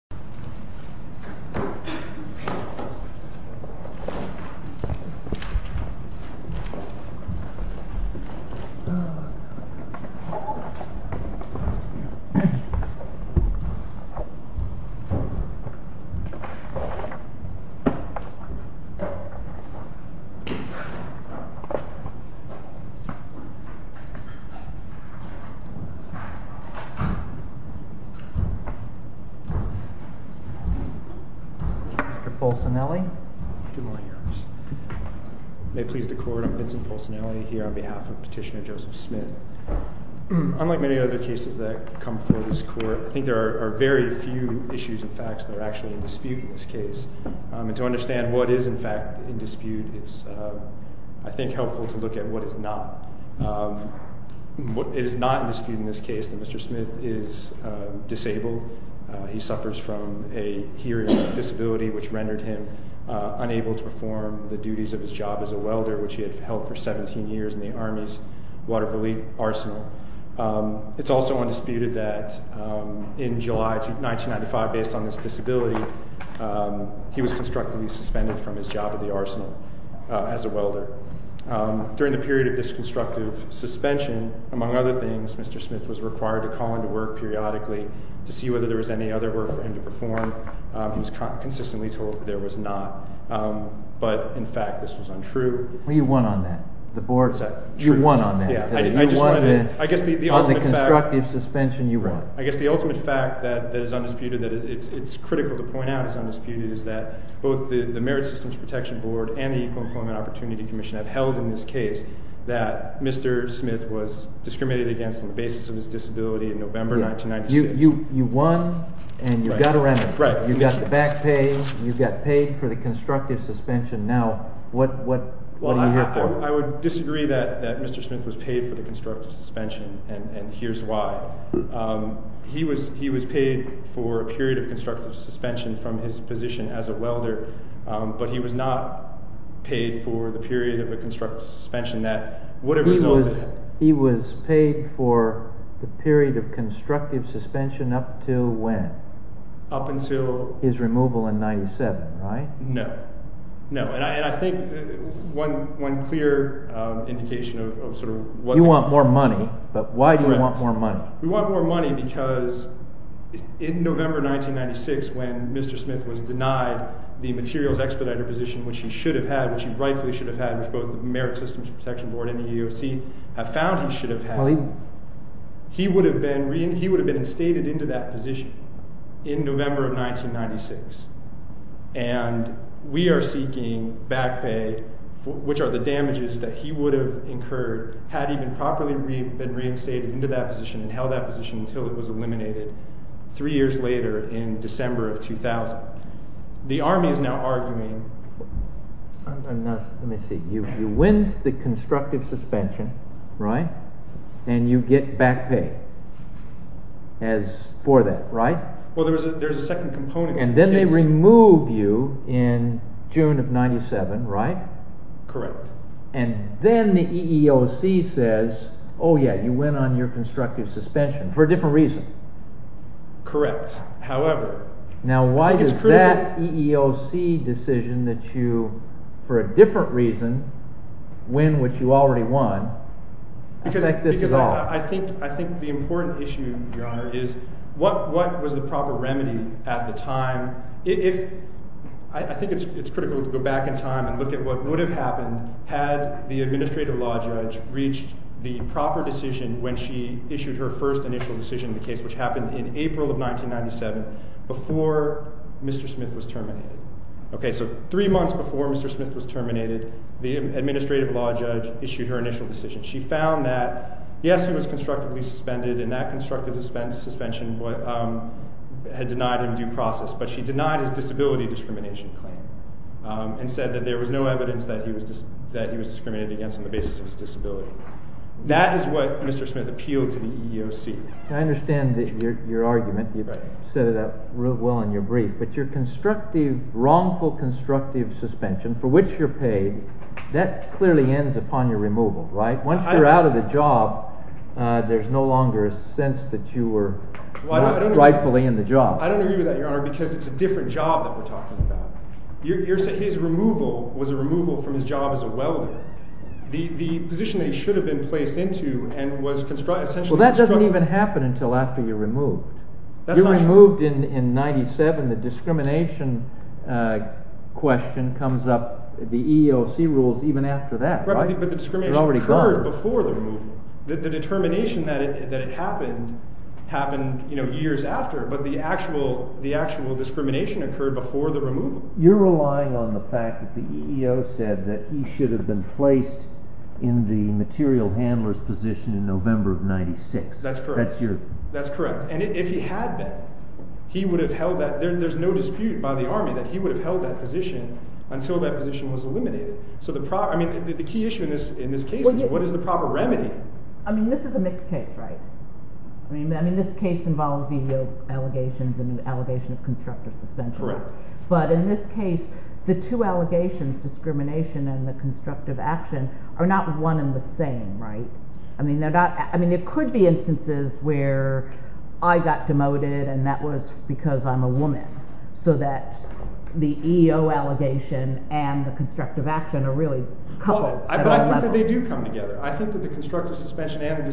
officer, Mr. Paulson, L. A. May please the court. I'm Vincent Paulson, L. A. Here on behalf of Petitioner Joseph Smith. Unlike many other cases that come before this court, I think there are very few issues and facts that are actually in dispute in this case. And to understand what is in fact in dispute, it's, I think, helpful to look at what is not. It is not in dispute in this case that Mr. Smith is disabled. He suffers from a hearing disability, which rendered him unable to perform the duties of his job as a welder, which he had held for 17 years in the Army's Water Police Arsenal. It's also undisputed that in July 1995, based on this disability, he was constructively suspended from his job at the Arsenal as a welder. During the period of this constructive suspension, among other things, Mr. Smith was required to call into work periodically to see whether there was any other work for him to perform. He was consistently told that there was not. But, in fact, this was untrue. Well, you won on that. You won on that. You won on the constructive suspension you won. I guess the ultimate fact that is undisputed, that it's critical to point out is undisputed, is that both the Merit Systems Protection Board and the Equal Employment Opportunity Commission have held in this case that Mr. Smith was discriminated against on the basis of his disability in November 1996. You won and you got a remuneration. Right. You got back pay. You got paid for the constructive suspension. Now, what are you here for? Well, I would disagree that Mr. Smith was paid for the period of constructive suspension from his position as a welder, but he was not paid for the period of a constructive suspension that would have resulted... He was paid for the period of constructive suspension up to when? Up until... His removal in 1997, right? No. No, and I think one clear indication of sort of what... We want more money, but why do we want more money? We want more money because in November 1996, when Mr. Smith was denied the materials expediter position, which he should have had, which he rightfully should have had, which both the Merit Systems Protection Board and the EEOC have found he should have had, he would have been reinstated into that position in November of 1996, and we are seeking back pay, which are the damages that he would have incurred had he been properly reinstated into that position and held that position until it was eliminated three years later in December of 2000. The Army is now arguing... Let me see. You win the constructive suspension, right, and you get back pay for that, right? Well, there's a second component... And then they remove you in June of 1997, right? Correct. And then the EEOC says, oh yeah, you went on your constructive suspension for a different reason. Correct. However... Now why does that EEOC decision that you, for a different reason, win what you already won, affect this at all? Because I think the important issue, Your Honor, is what was the proper remedy at the time? I think it's critical to go back in time and look at what would have happened had the administrative law judge reached the proper decision when she issued her first initial decision in the case, which happened in April of 1997, before Mr. Smith was terminated. Okay, so three months before Mr. Smith was terminated, the administrative law judge issued her initial decision. She found that, yes, he was constructively suspended, and that constructive suspension had denied him due process, but she denied his disability discrimination claim and said that there was no evidence that he was discriminated against on the basis of his disability. That is what Mr. Smith appealed to the EEOC. I understand your argument. You've set it up real well in your brief, but your wrongful constructive suspension, for which you're paid, that clearly ends upon your removal, right? Once you're out of the job, there's no longer a sense that you were rightfully in the job. I don't agree with that, Your Honor, because it's a different job that we're talking about. His removal was a removal from his job as a welder. The position that he should have been placed into and was essentially constructed... Well, that doesn't even happen until after you're removed. You're removed in 1997. The discrimination question comes up, the EEOC rules, even after that, right? But the discrimination occurred before the removal. The determination that it happened happened years after, but the actual discrimination occurred before the removal. You're relying on the fact that the EEOC said that he should have been placed in the material handler's position in November of 1996. That's correct. And if he had been, there's no dispute by the Army that he would have held that position until that position was eliminated. The key issue in this case is what is the proper remedy? I mean, this is a mixed case, right? I mean, this case involves EEOC allegations and an allegation of constructive suspension. Correct. But in this case, the two allegations, discrimination and the constructive action, are not one and the same, right? I mean, it could be instances where I got demoted and that was because I'm a woman, so that the EEO allegation and the constructive action are really coupled. But I think that they do come together. I think that the constructive action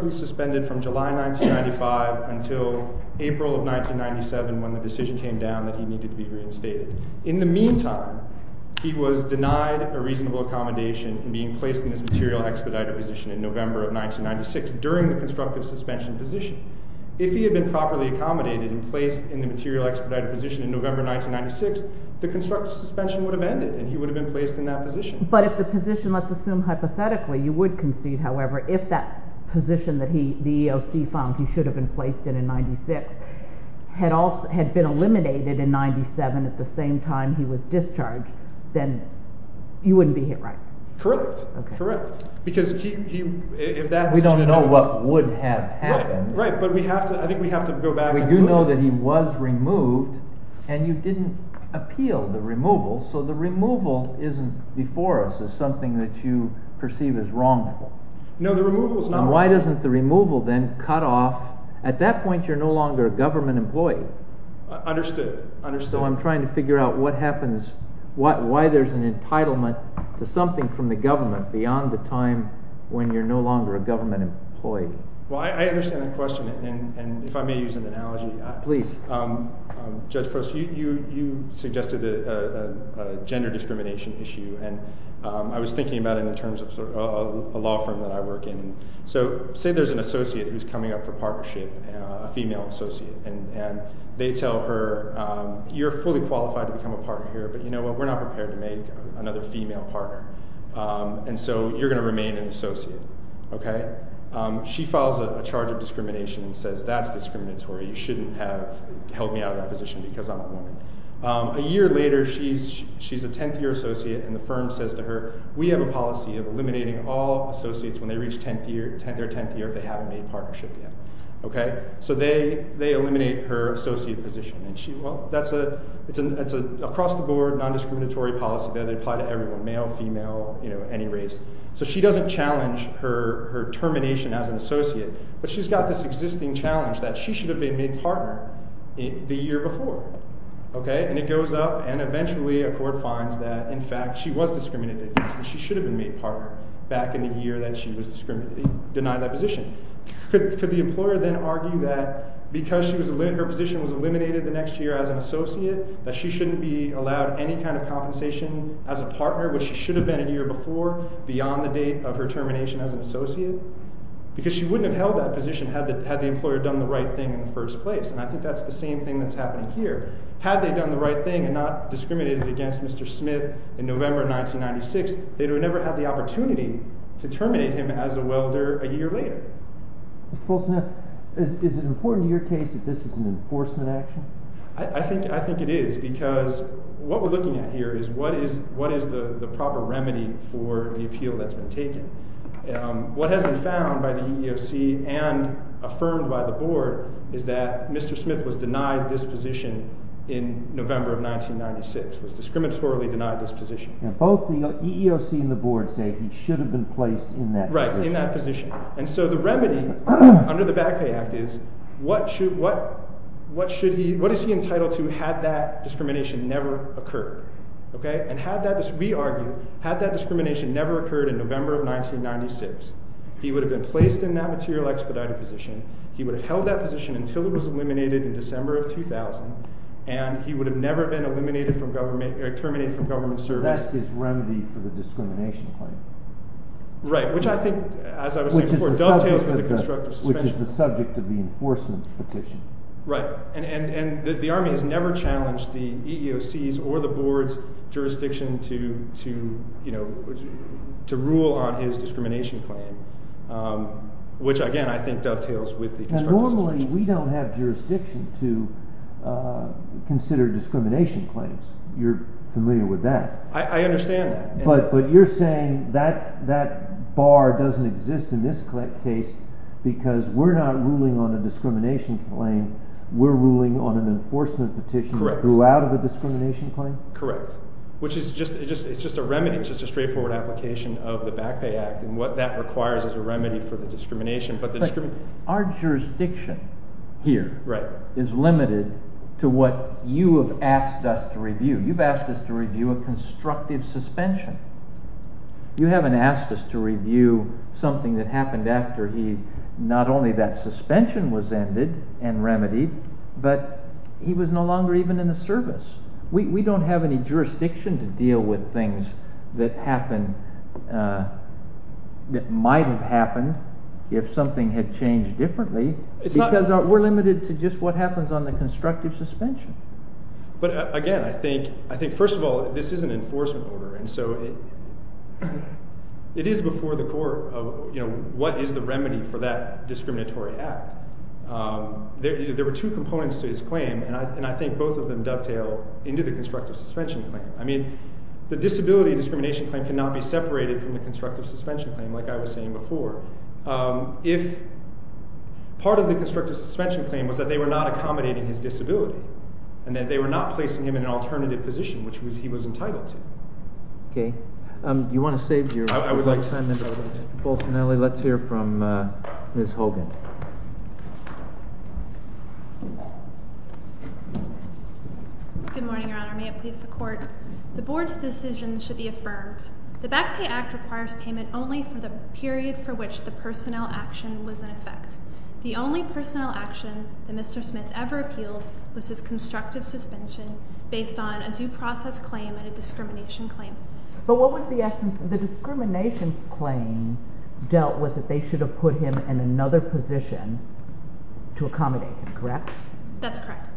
was suspended from July 1995 until April of 1997 when the decision came down that he needed to be reinstated. In the meantime, he was denied a reasonable accommodation in being placed in this material expediter position in November of 1996 during the constructive suspension position. If he had been properly accommodated and placed in the material expediter position in November 1996, the constructive suspension would have ended and he would have been placed in that position. But if the position, let's assume hypothetically, you would concede, however, if that position that the EEOC found he should have been placed in in 1996 had been eliminated in 1997 at the same time he was discharged, then he wouldn't be here, right? Correct. Correct. Because if that's true... We don't know what would have happened. Right. But I think we have to go back and look. We do know that he was removed and you didn't appeal the removal. So the removal isn't before us as something that you perceive as wrong. No, the removal is not wrong. Why doesn't the removal then cut off... At that point, you're no longer a government employee. Understood. So I'm trying to figure out what happens, why there's an entitlement to something from the government beyond the time when you're no longer a government employee. Well, I understand that question and if I may use an analogy... Please. Judge Post, you suggested a gender discrimination issue and I was thinking about it in terms of a law firm that I work in. So say there's an associate who's coming up for partnership, a female associate, and they tell her you're fully qualified to become a partner here, but you know what, we're not prepared to make another female partner and so you're going to remain an associate. She files a charge of discrimination and says that's discriminatory, you shouldn't have held me out of that position because I'm a woman. A year later, she's a 10th year associate and the firm says to her, we have a policy of eliminating all associates when they reach their 10th year if they haven't made partnership yet. So they eliminate her associate position and that's an across-the-board, non-discriminatory policy that applies to everyone, male, female, any race. So she doesn't challenge her termination as an associate, but she's got this existing challenge that she should have been made partner the year before. And it goes up and eventually a court finds that in fact she was discriminated against and she should have been made partner back in the year that she was denied that position. Could the employer then argue that because her position was eliminated the next year as an associate, that she shouldn't be allowed any kind of compensation as a partner, which she should have been a year before, beyond the date of her termination as an associate? Because she wouldn't have held that position had the employer done the right thing in the first place. And I think that's the same thing that's happening here. Had they done the right thing and not discriminated against Mr. Smith in November of 1996, they would have never had the opportunity to terminate him as a welder a year later. Mr. Polson, is it important to your case that this is an enforcement action? I think it is because what we're looking at here is what is the proper remedy for the appeal that's been taken. What has been found by the EEOC and affirmed by the board is that Mr. Smith was denied this position. And both the EEOC and the board say he should have been placed in that position. And so the remedy under the Back Pay Act is, what is he entitled to had that discrimination never occurred? We argue, had that discrimination never occurred in November of 1996, he would have been placed in that material expedited position, he would have held that position until it was eliminated in December of 2000, and he would have never been terminated from government service. That's his remedy for the discrimination claim. Right. Which I think, as I was saying before, dovetails with the constructive suspension. Which is the subject of the enforcement petition. Right. And the Army has never challenged the EEOC's or the board's jurisdiction to rule on his discrimination claim. Which, again, I think dovetails with the constructive suspension. Now normally we don't have jurisdiction to consider discrimination claims. You're familiar with that. I understand that. But you're saying that bar doesn't exist in this case because we're not ruling on a discrimination claim, we're ruling on an enforcement petition throughout a discrimination claim? Correct. Which is just a remedy. It's just a straightforward application of the Back Pay Act. And what that requires is a remedy for the discrimination. But our jurisdiction here is limited to what you have asked us to review. You've asked us to review a constructive suspension. You haven't asked us to review something that happened after not only that suspension was ended and remedied, but he was no longer even in the service. We don't have any jurisdiction to deal with things that happen, that might have happened if something had changed differently because we're limited to just what happens on the constructive suspension. But again, I think first of all, this is an enforcement order. And so it is before the court of what is the remedy for that discriminatory act. There were two components to his claim, and I think both of them dovetail into the constructive suspension claim. I mean, the disability discrimination claim cannot be separated from the constructive suspension claim like I was saying before. If part of the constructive suspension claim was that they were not accommodating his disability, and that they were not placing him in an alternative position, which he was entitled to. Okay. You want to save your time, Mr. Bolsinelli? Let's hear from Ms. Hogan. Good morning, Your Honor. May it please the court? The board's decision should be affirmed. The Back Pay Act requires payment only for the period for which the personnel action was in effect. The only personnel action that Mr. Smith ever appealed was his constructive suspension based on a due process claim and a discrimination claim. But what was the essence of the discrimination claim dealt with that they should have put him in another position to accommodate him, correct? That's correct.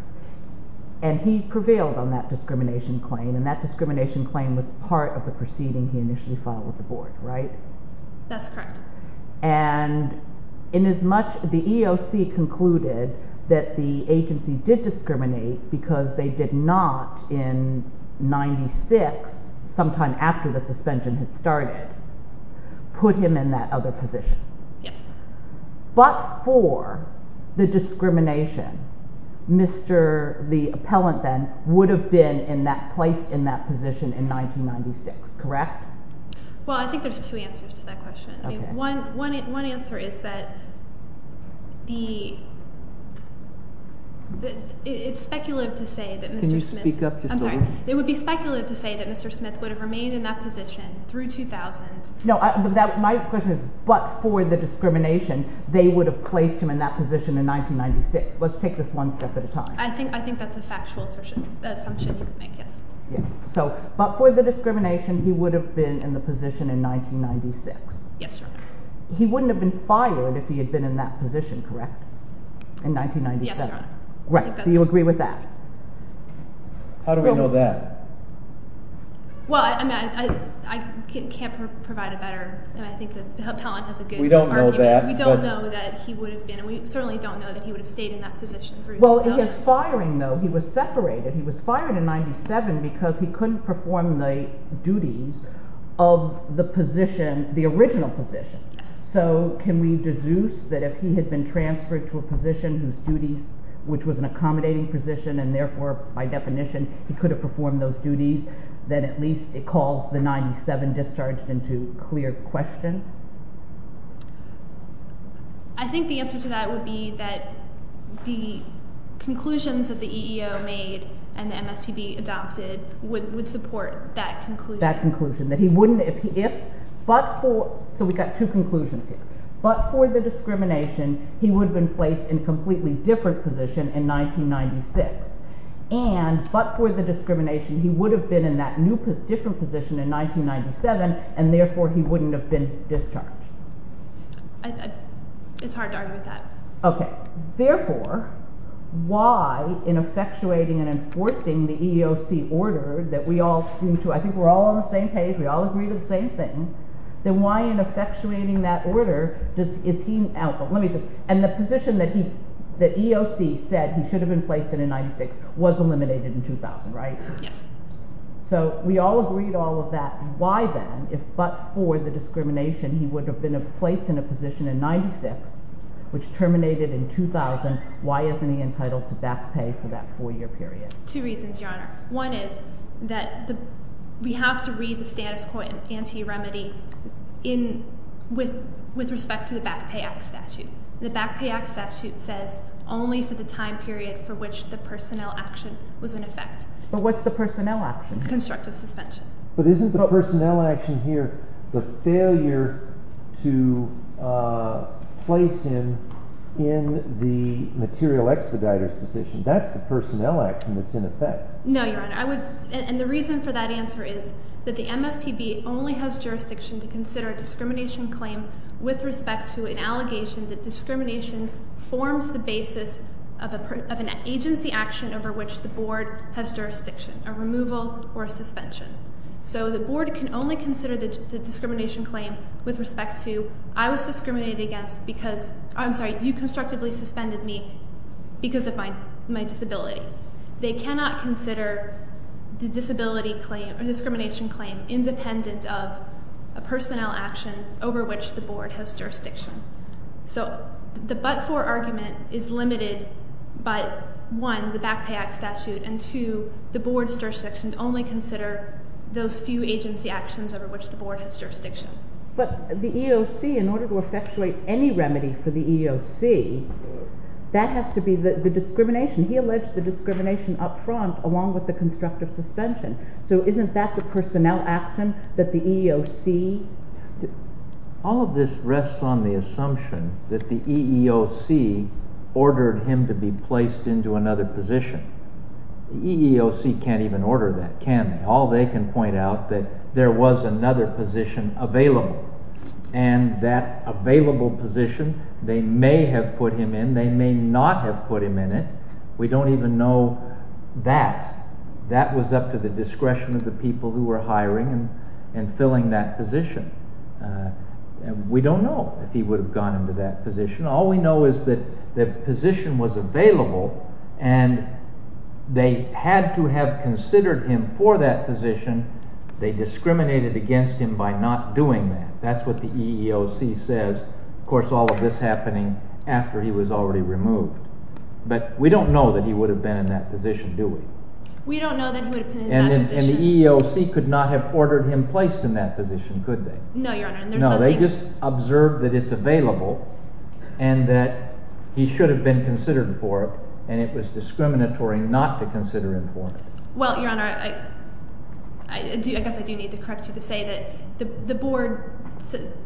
And he prevailed on that discrimination claim, and that discrimination claim was part of the proceeding he initially filed with the board, right? That's correct. And in as much, the EOC concluded that the agency did discriminate because they did not in 96, sometime after the suspension had started, put him in that other position. Yes. But for the discrimination, Mr., the appellant then, would have been in that position in 1996, correct? Well, I think there's two answers to that question. One answer is that the, it's speculative to say that Mr. Smith... Can you speak up just a little? I'm sorry. It would be speculative to say that Mr. Smith would have remained in that position through 2000. No, my question is, but for the discrimination, they would have placed him in that position in 1996. Yes. But for the discrimination, he would have been in the position in 1996. Yes, Your Honor. He wouldn't have been fired if he had been in that position, correct, in 1997? Yes, Your Honor. Right, so you agree with that? How do we know that? Well, I mean, I can't provide a better, and I think the appellant has a good argument. We don't know that. We don't know that he would have been, and we certainly don't know that he would have remained in that position through 2000. Well, he is firing, though. He was separated. He was fired in 97 because he couldn't perform the duties of the position, the original position. So can we deduce that if he had been transferred to a position whose duties, which was an accommodating position, and therefore, by definition, he could have performed those duties, then at least it calls the 97 discharged into clear question? I think the answer to that would be that the conclusions that the EEO made and the MSPB adopted would support that conclusion. That conclusion, that he wouldn't, if, but for, so we've got two conclusions here. But for the discrimination, he would have been placed in a completely different position in 1996. And, but for the discrimination, he would have been in that new, different position in 1997, and therefore, he wouldn't have been discharged. It's hard to argue with that. Okay. Therefore, why in effectuating and enforcing the EEOC order that we all seem to, I think we're all on the same page, we all agree to the same thing, then why in effectuating that order does, is he, let me just, and the position that he, that EEOC said he should have been placed in in 96 was eliminated in 2000, right? Yes. So, we all agree to all of that. Why then, if, but for the discrimination, he would have been placed in a position in 96, which terminated in 2000, why isn't he entitled to back pay for that four-year period? Two reasons, Your Honor. One is that we have to read the status quo in anti-remedy in, with respect to the Back Pay Act statute. The Back Pay Act statute says only for the time period for which the personnel action was in effect. But what's the personnel action? Constructive suspension. But isn't the personnel action here the failure to place him in the material expediter's position? That's the personnel action that's in effect. No, Your Honor. I would, and the reason for that answer is that the MSPB only has jurisdiction to consider a discrimination claim with respect to an allegation that discrimination forms the basis of an agency action over which the board has jurisdiction, a removal or a suspension. So, the board can only consider the discrimination claim with respect to, I was discriminated against because, I'm sorry, you constructively suspended me because of my disability. They cannot consider the disability claim or discrimination claim independent of a personnel action over which the board has jurisdiction. So, the but-for argument is limited by one, the Back Pay Act statute, and two, the board's jurisdiction to only consider those few agency actions over which the board has jurisdiction. But the EOC, in order to discrimination, he alleged the discrimination up front along with the constructive suspension. So, isn't that the personnel action that the EEOC? All of this rests on the assumption that the EEOC ordered him to be placed into another position. The EEOC can't even order that, can they? All they can point out that there was another position available, and that we don't even know that. That was up to the discretion of the people who were hiring and filling that position. We don't know if he would have gone into that position. All we know is that the position was available and they had to have considered him for that position. They discriminated against him by not doing that. That's what the EEOC says. Of course, all of this happening after he was already removed. But we don't know that he would have been in that position, do we? We don't know that he would have been in that position. And the EEOC could not have ordered him placed in that position, could they? No, Your Honor. No, they just observed that it's available and that he should have been considered for it, and it was discriminatory not to consider him for it. Well, Your Honor, I guess I do need to correct you to say that the board,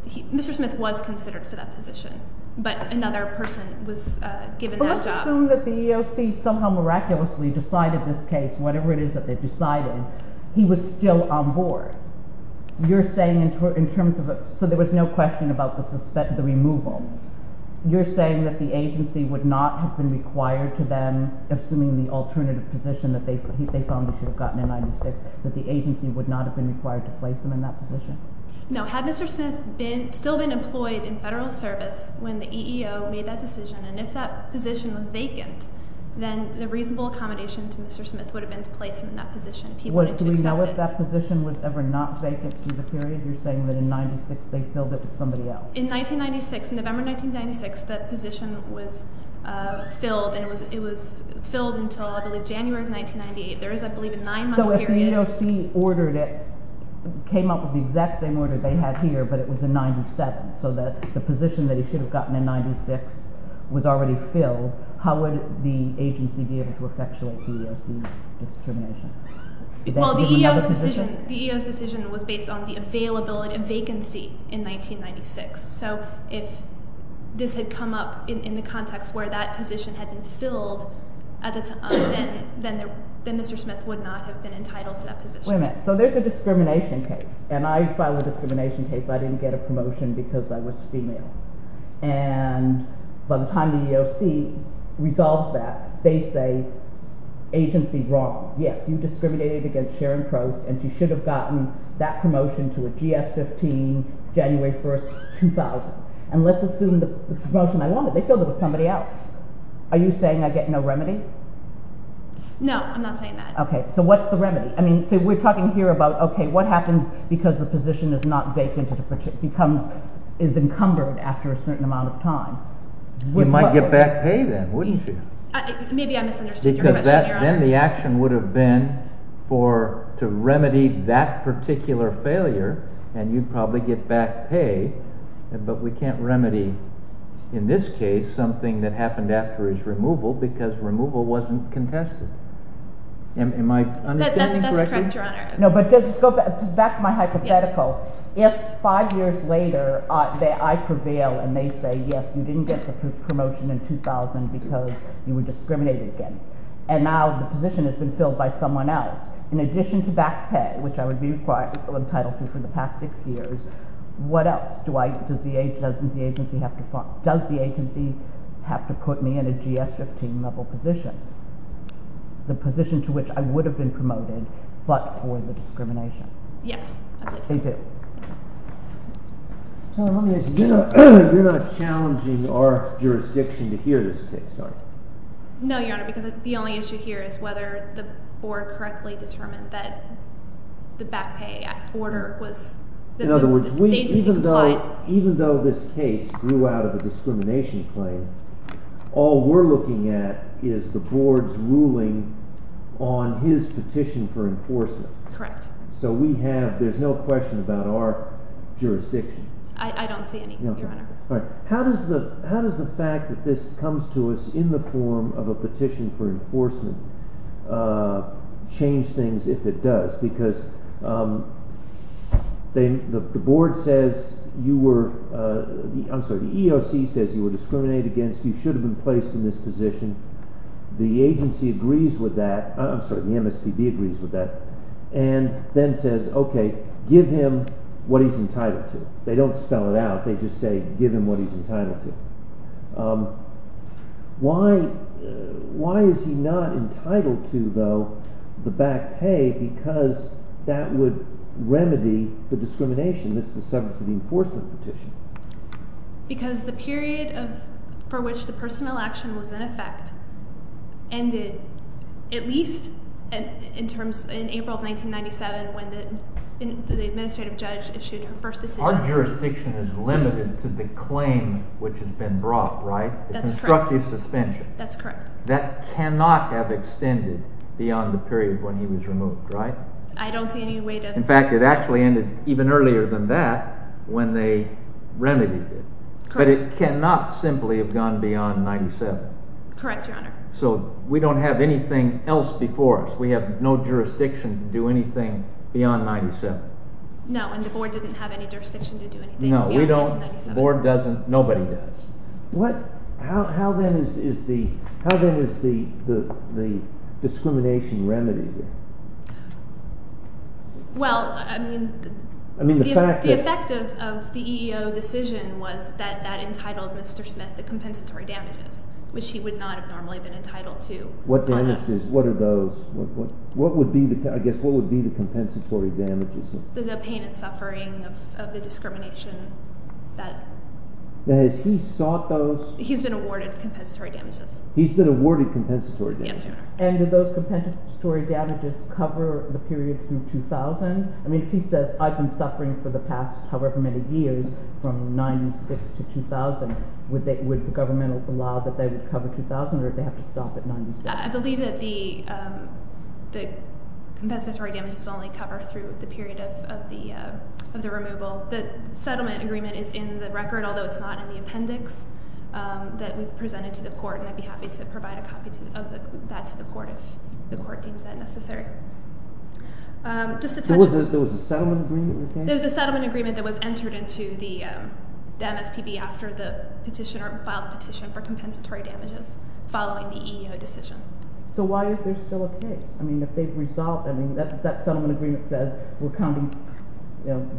Mr. Smith was considered for that position, but another person was given that job. But let's assume that the EEOC somehow miraculously decided this case, whatever it is that they decided, he was still on board. You're saying in terms of, so there was no question about the removal. You're saying that the agency would not have been required to then, assuming the alternative position that they found he should have gotten in 96, that the agency would not have been required to place him in that position? No. Had Mr. Smith still been employed in federal service when the EEOC made that decision, and if that position was vacant, then the reasonable accommodation to Mr. Smith would have been to place him in that position. Do we know if that position was ever not vacant through the period? You're saying that in 96 they filled it with somebody else. In 96, it was filled until I believe January of 1998. There is, I believe, a nine-month period. So if the EEOC ordered it, came up with the exact same order they had here, but it was in 97, so that the position that he should have gotten in 96 was already filled, how would the agency be able to effectuate the EEOC's determination? Well, the EEOC's decision was based on the availability and vacancy in 1996. So if this had come up in the context where that position had been filled, then Mr. Smith would not have been entitled to that position. Wait a minute. So there's a discrimination case, and I filed a discrimination case. I didn't get a promotion because I was female. And by the time the EEOC resolved that, they say agency wrong. Yes, you discriminated against Sharon Crow, and she should have gotten that promotion to a GS-15 January 1st, 2000. And let's assume the promotion I wanted, they filled it with somebody else. Are you saying I get no remedy? No, I'm not saying that. Okay, so what's the remedy? I mean, so we're talking here about, okay, what happens because the position is not vacant, it becomes, is encumbered after a certain amount of time. You might get back pay then, wouldn't you? Maybe I misunderstood your question, Your Honor. Because then the action would have been to remedy that particular failure, and you'd probably get back pay, but we can't remedy in this case something that happened after his removal because removal wasn't contested. Am I understanding correctly? That's correct, Your Honor. No, but back to my hypothetical. If five years later I prevail and they say, yes, you didn't get the promotion in 2000 because you were discriminated against, and now the position has been filled by someone else, in addition to back pay, which I would be required on Title II for the past six years, what else do I, does the agency have to put me in a GS-15 level position? The position to which I would have been promoted, but for the discrimination. Yes. You're not challenging our jurisdiction to hear this case, are you? No, Your Honor, because the only issue here is whether the board correctly determined that the back pay order was, that the agency complied. In other words, even though this case grew out of a discrimination claim, all we're looking at is the board's on his petition for enforcement. Correct. So we have, there's no question about our jurisdiction. I don't see any, Your Honor. How does the fact that this comes to us in the form of a petition for enforcement change things if it does? Because the board says you were, I'm sorry, the EOC says you were I'm sorry, the MSPB agrees with that, and then says, okay, give him what he's entitled to. They don't spell it out. They just say give him what he's entitled to. Why is he not entitled to, though, the back pay because that would remedy the discrimination that's the subject of the enforcement petition? Because the period for which the personnel action was in effect ended at least in April of 1997 when the administrative judge issued her first decision. Our jurisdiction is limited to the claim which has been brought, right? The constructive suspension. That's correct. That cannot have extended beyond the period when he was removed, right? I don't see any way to. In fact, it actually ended even earlier than that when they remedied it. But it cannot simply have gone beyond 97. Correct, Your Honor. So we don't have anything else before us. We have no jurisdiction to do anything beyond 97. No, and the board didn't have any jurisdiction to do anything beyond 97. No, we don't. The board doesn't. Nobody does. How then is the discrimination remedied? The effect of the EEO decision was that entitled Mr. Smith to compensatory damages, which he would not have normally been entitled to. What damages? What are those? What would be the compensatory damages? The pain and suffering of the discrimination that has he sought those? He's been awarded compensatory damages. He's been awarded compensatory damages. Yes, Your Honor. And did those compensatory damages cover the period through 2000? I mean, if he says, I've been suffering for the past however many years from 96 to 2000, would the government allow that they would cover 2000 or would they have to stop at 96? I believe that the compensatory damages only cover through the period of the removal. The settlement agreement is in the record, although it's not in the appendix that we've presented to the court, and I'd be happy to provide a copy of that to the court if the court deems that necessary. There was a settlement agreement? There was a settlement agreement that was entered into the MSPB after the petitioner filed the petition for compensatory damages following the EEO decision. So why is there still a case? I mean, if they've resolved, I mean, that settlement agreement says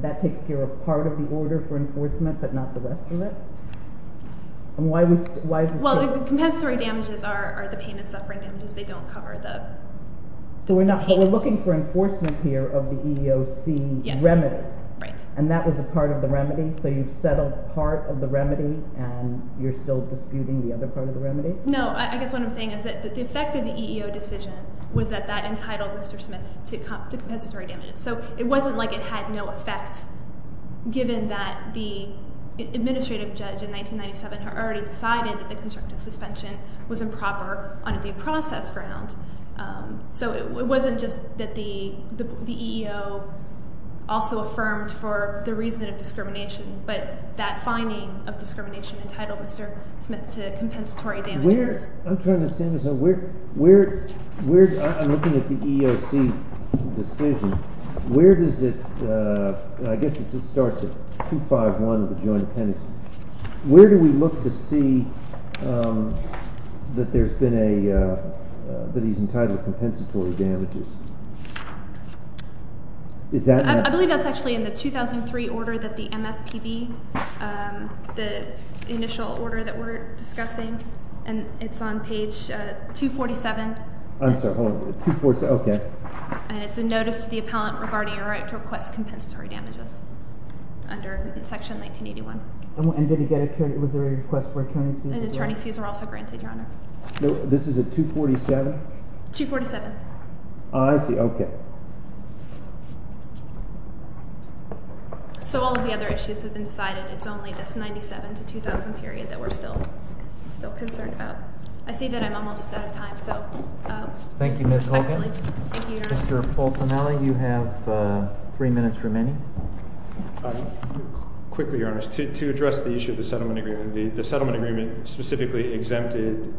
that takes care of part of the order for enforcement, but not the rest of it? Well, the compensatory damages are the pain and suffering damages. They don't cover the payment. But we're looking for enforcement here of the EEOC remedy, and that was a part of the remedy, so you've settled part of the remedy, and you're still disputing the other part of the remedy? No, I guess what I'm saying is that the effect of the EEO decision was that that entitled Mr. Smith to compensatory damages. So it wasn't like it had no effect, given that the administrative judge in 1997 had already decided that the constructive suspension was improper on a due process ground. So it wasn't just that the EEO also affirmed for the reason of discrimination, but that finding of discrimination entitled Mr. Smith to compensatory damages. I'm trying to understand this. I'm looking at the EEOC decision. Where does it, I guess it starts at 251 of the joint appendix. Where do we look to see that there's been a, that he's entitled to compensatory damages? I believe that's actually in the 2003 order that the MSPB, the initial order that we're discussing, and it's on page 247. I'm sorry, hold on. 247, okay. And it's a notice to the appellant regarding a right to request compensatory damages under section 1981. And did he get a, was there a request for attorney's fees? And attorney's fees were also granted, Your Honor. This is a 247? 247. Oh, I see, okay. So all of the other issues have been decided. It's only this 97 to 2000 period that we're still concerned about. I see that I'm almost out of time, so respectfully. Thank you, Ms. Holgen. Thank you, Your Honor. Mr. To address the issue of the settlement agreement, the settlement agreement specifically exempted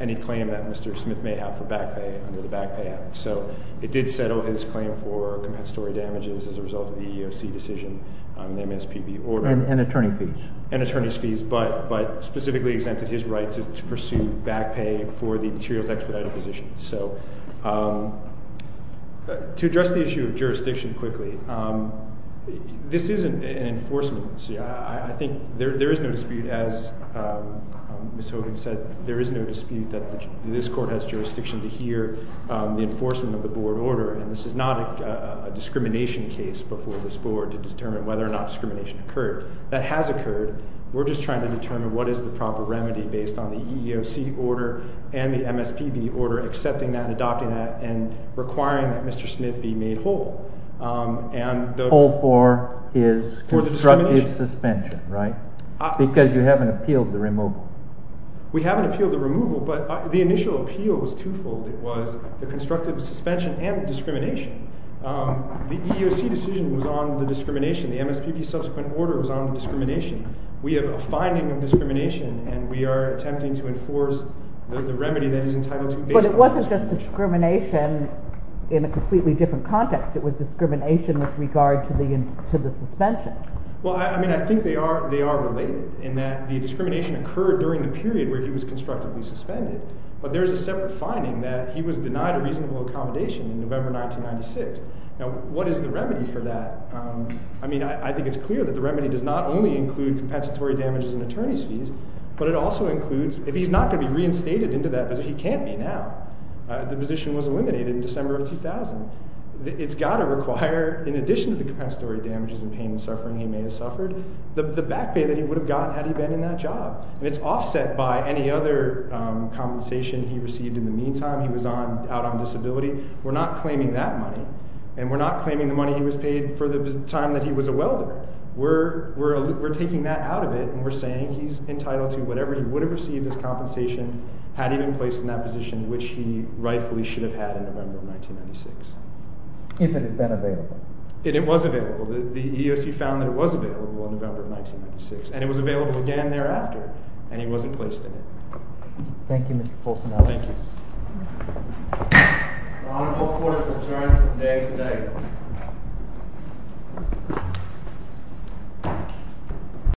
any claim that Mr. Smith may have for back pay under the Back Pay Act. So it did settle his claim for compensatory damages as a result of the EEOC decision on the MSPB order. And attorney's fees. And attorney's fees, but specifically exempted his right to pursue back pay for the materials expedited position. So to address the issue of jurisdiction quickly, this isn't an enforcement. I think there is no dispute, as Ms. Holgen said, there is no dispute that this court has jurisdiction to hear the enforcement of the board order. And this is not a discrimination case before this board to determine whether or not discrimination occurred. That has occurred. We're just trying to determine what is the proper remedy based on the EEOC order and the MSPB order, accepting that and adopting that and requiring that Mr. Smith be made whole. Whole for his constructive suspension, right? Because you haven't appealed the removal. We haven't appealed the removal, but the initial appeal was twofold. It was the constructive suspension and discrimination. The EEOC decision was on the discrimination. The MSPB subsequent order was on the discrimination. We have a finding of discrimination and we are attempting to enforce the remedy that is entitled to based on the discrimination. But it wasn't just discrimination in a completely different context. It was discrimination with regard to the suspension. Well, I mean, I think they are related in that the discrimination occurred during the period where he was constructively suspended. But there is a separate finding that he was denied a reasonable accommodation in November 1996. Now, what is the remedy for that? I mean, I think it's clear that the remedy does not only include compensatory damages and attorney's fees, but it also includes, if he's not going to be reinstated into that position, he can't be now. The position was eliminated in December of 2000. It's got to require, in addition to the compensatory damages and pain and suffering he may have suffered, the back pay that he would have gotten had he been in that job. And it's offset by any other compensation he received in the meantime. He was out on disability. We're not claiming that money. And we're not claiming the money he was paid for the time that he was a welder. We're taking that out of it and we're saying he's entitled to whatever he would have received as compensation had he been placed in that position, which he rightfully should have had in November of 1996. If it had been available. It was available. The EEOC found that it was available in November of 1996. And it was available again thereafter. And he wasn't placed in it. Thank you, Mr. Folsom. Thank you.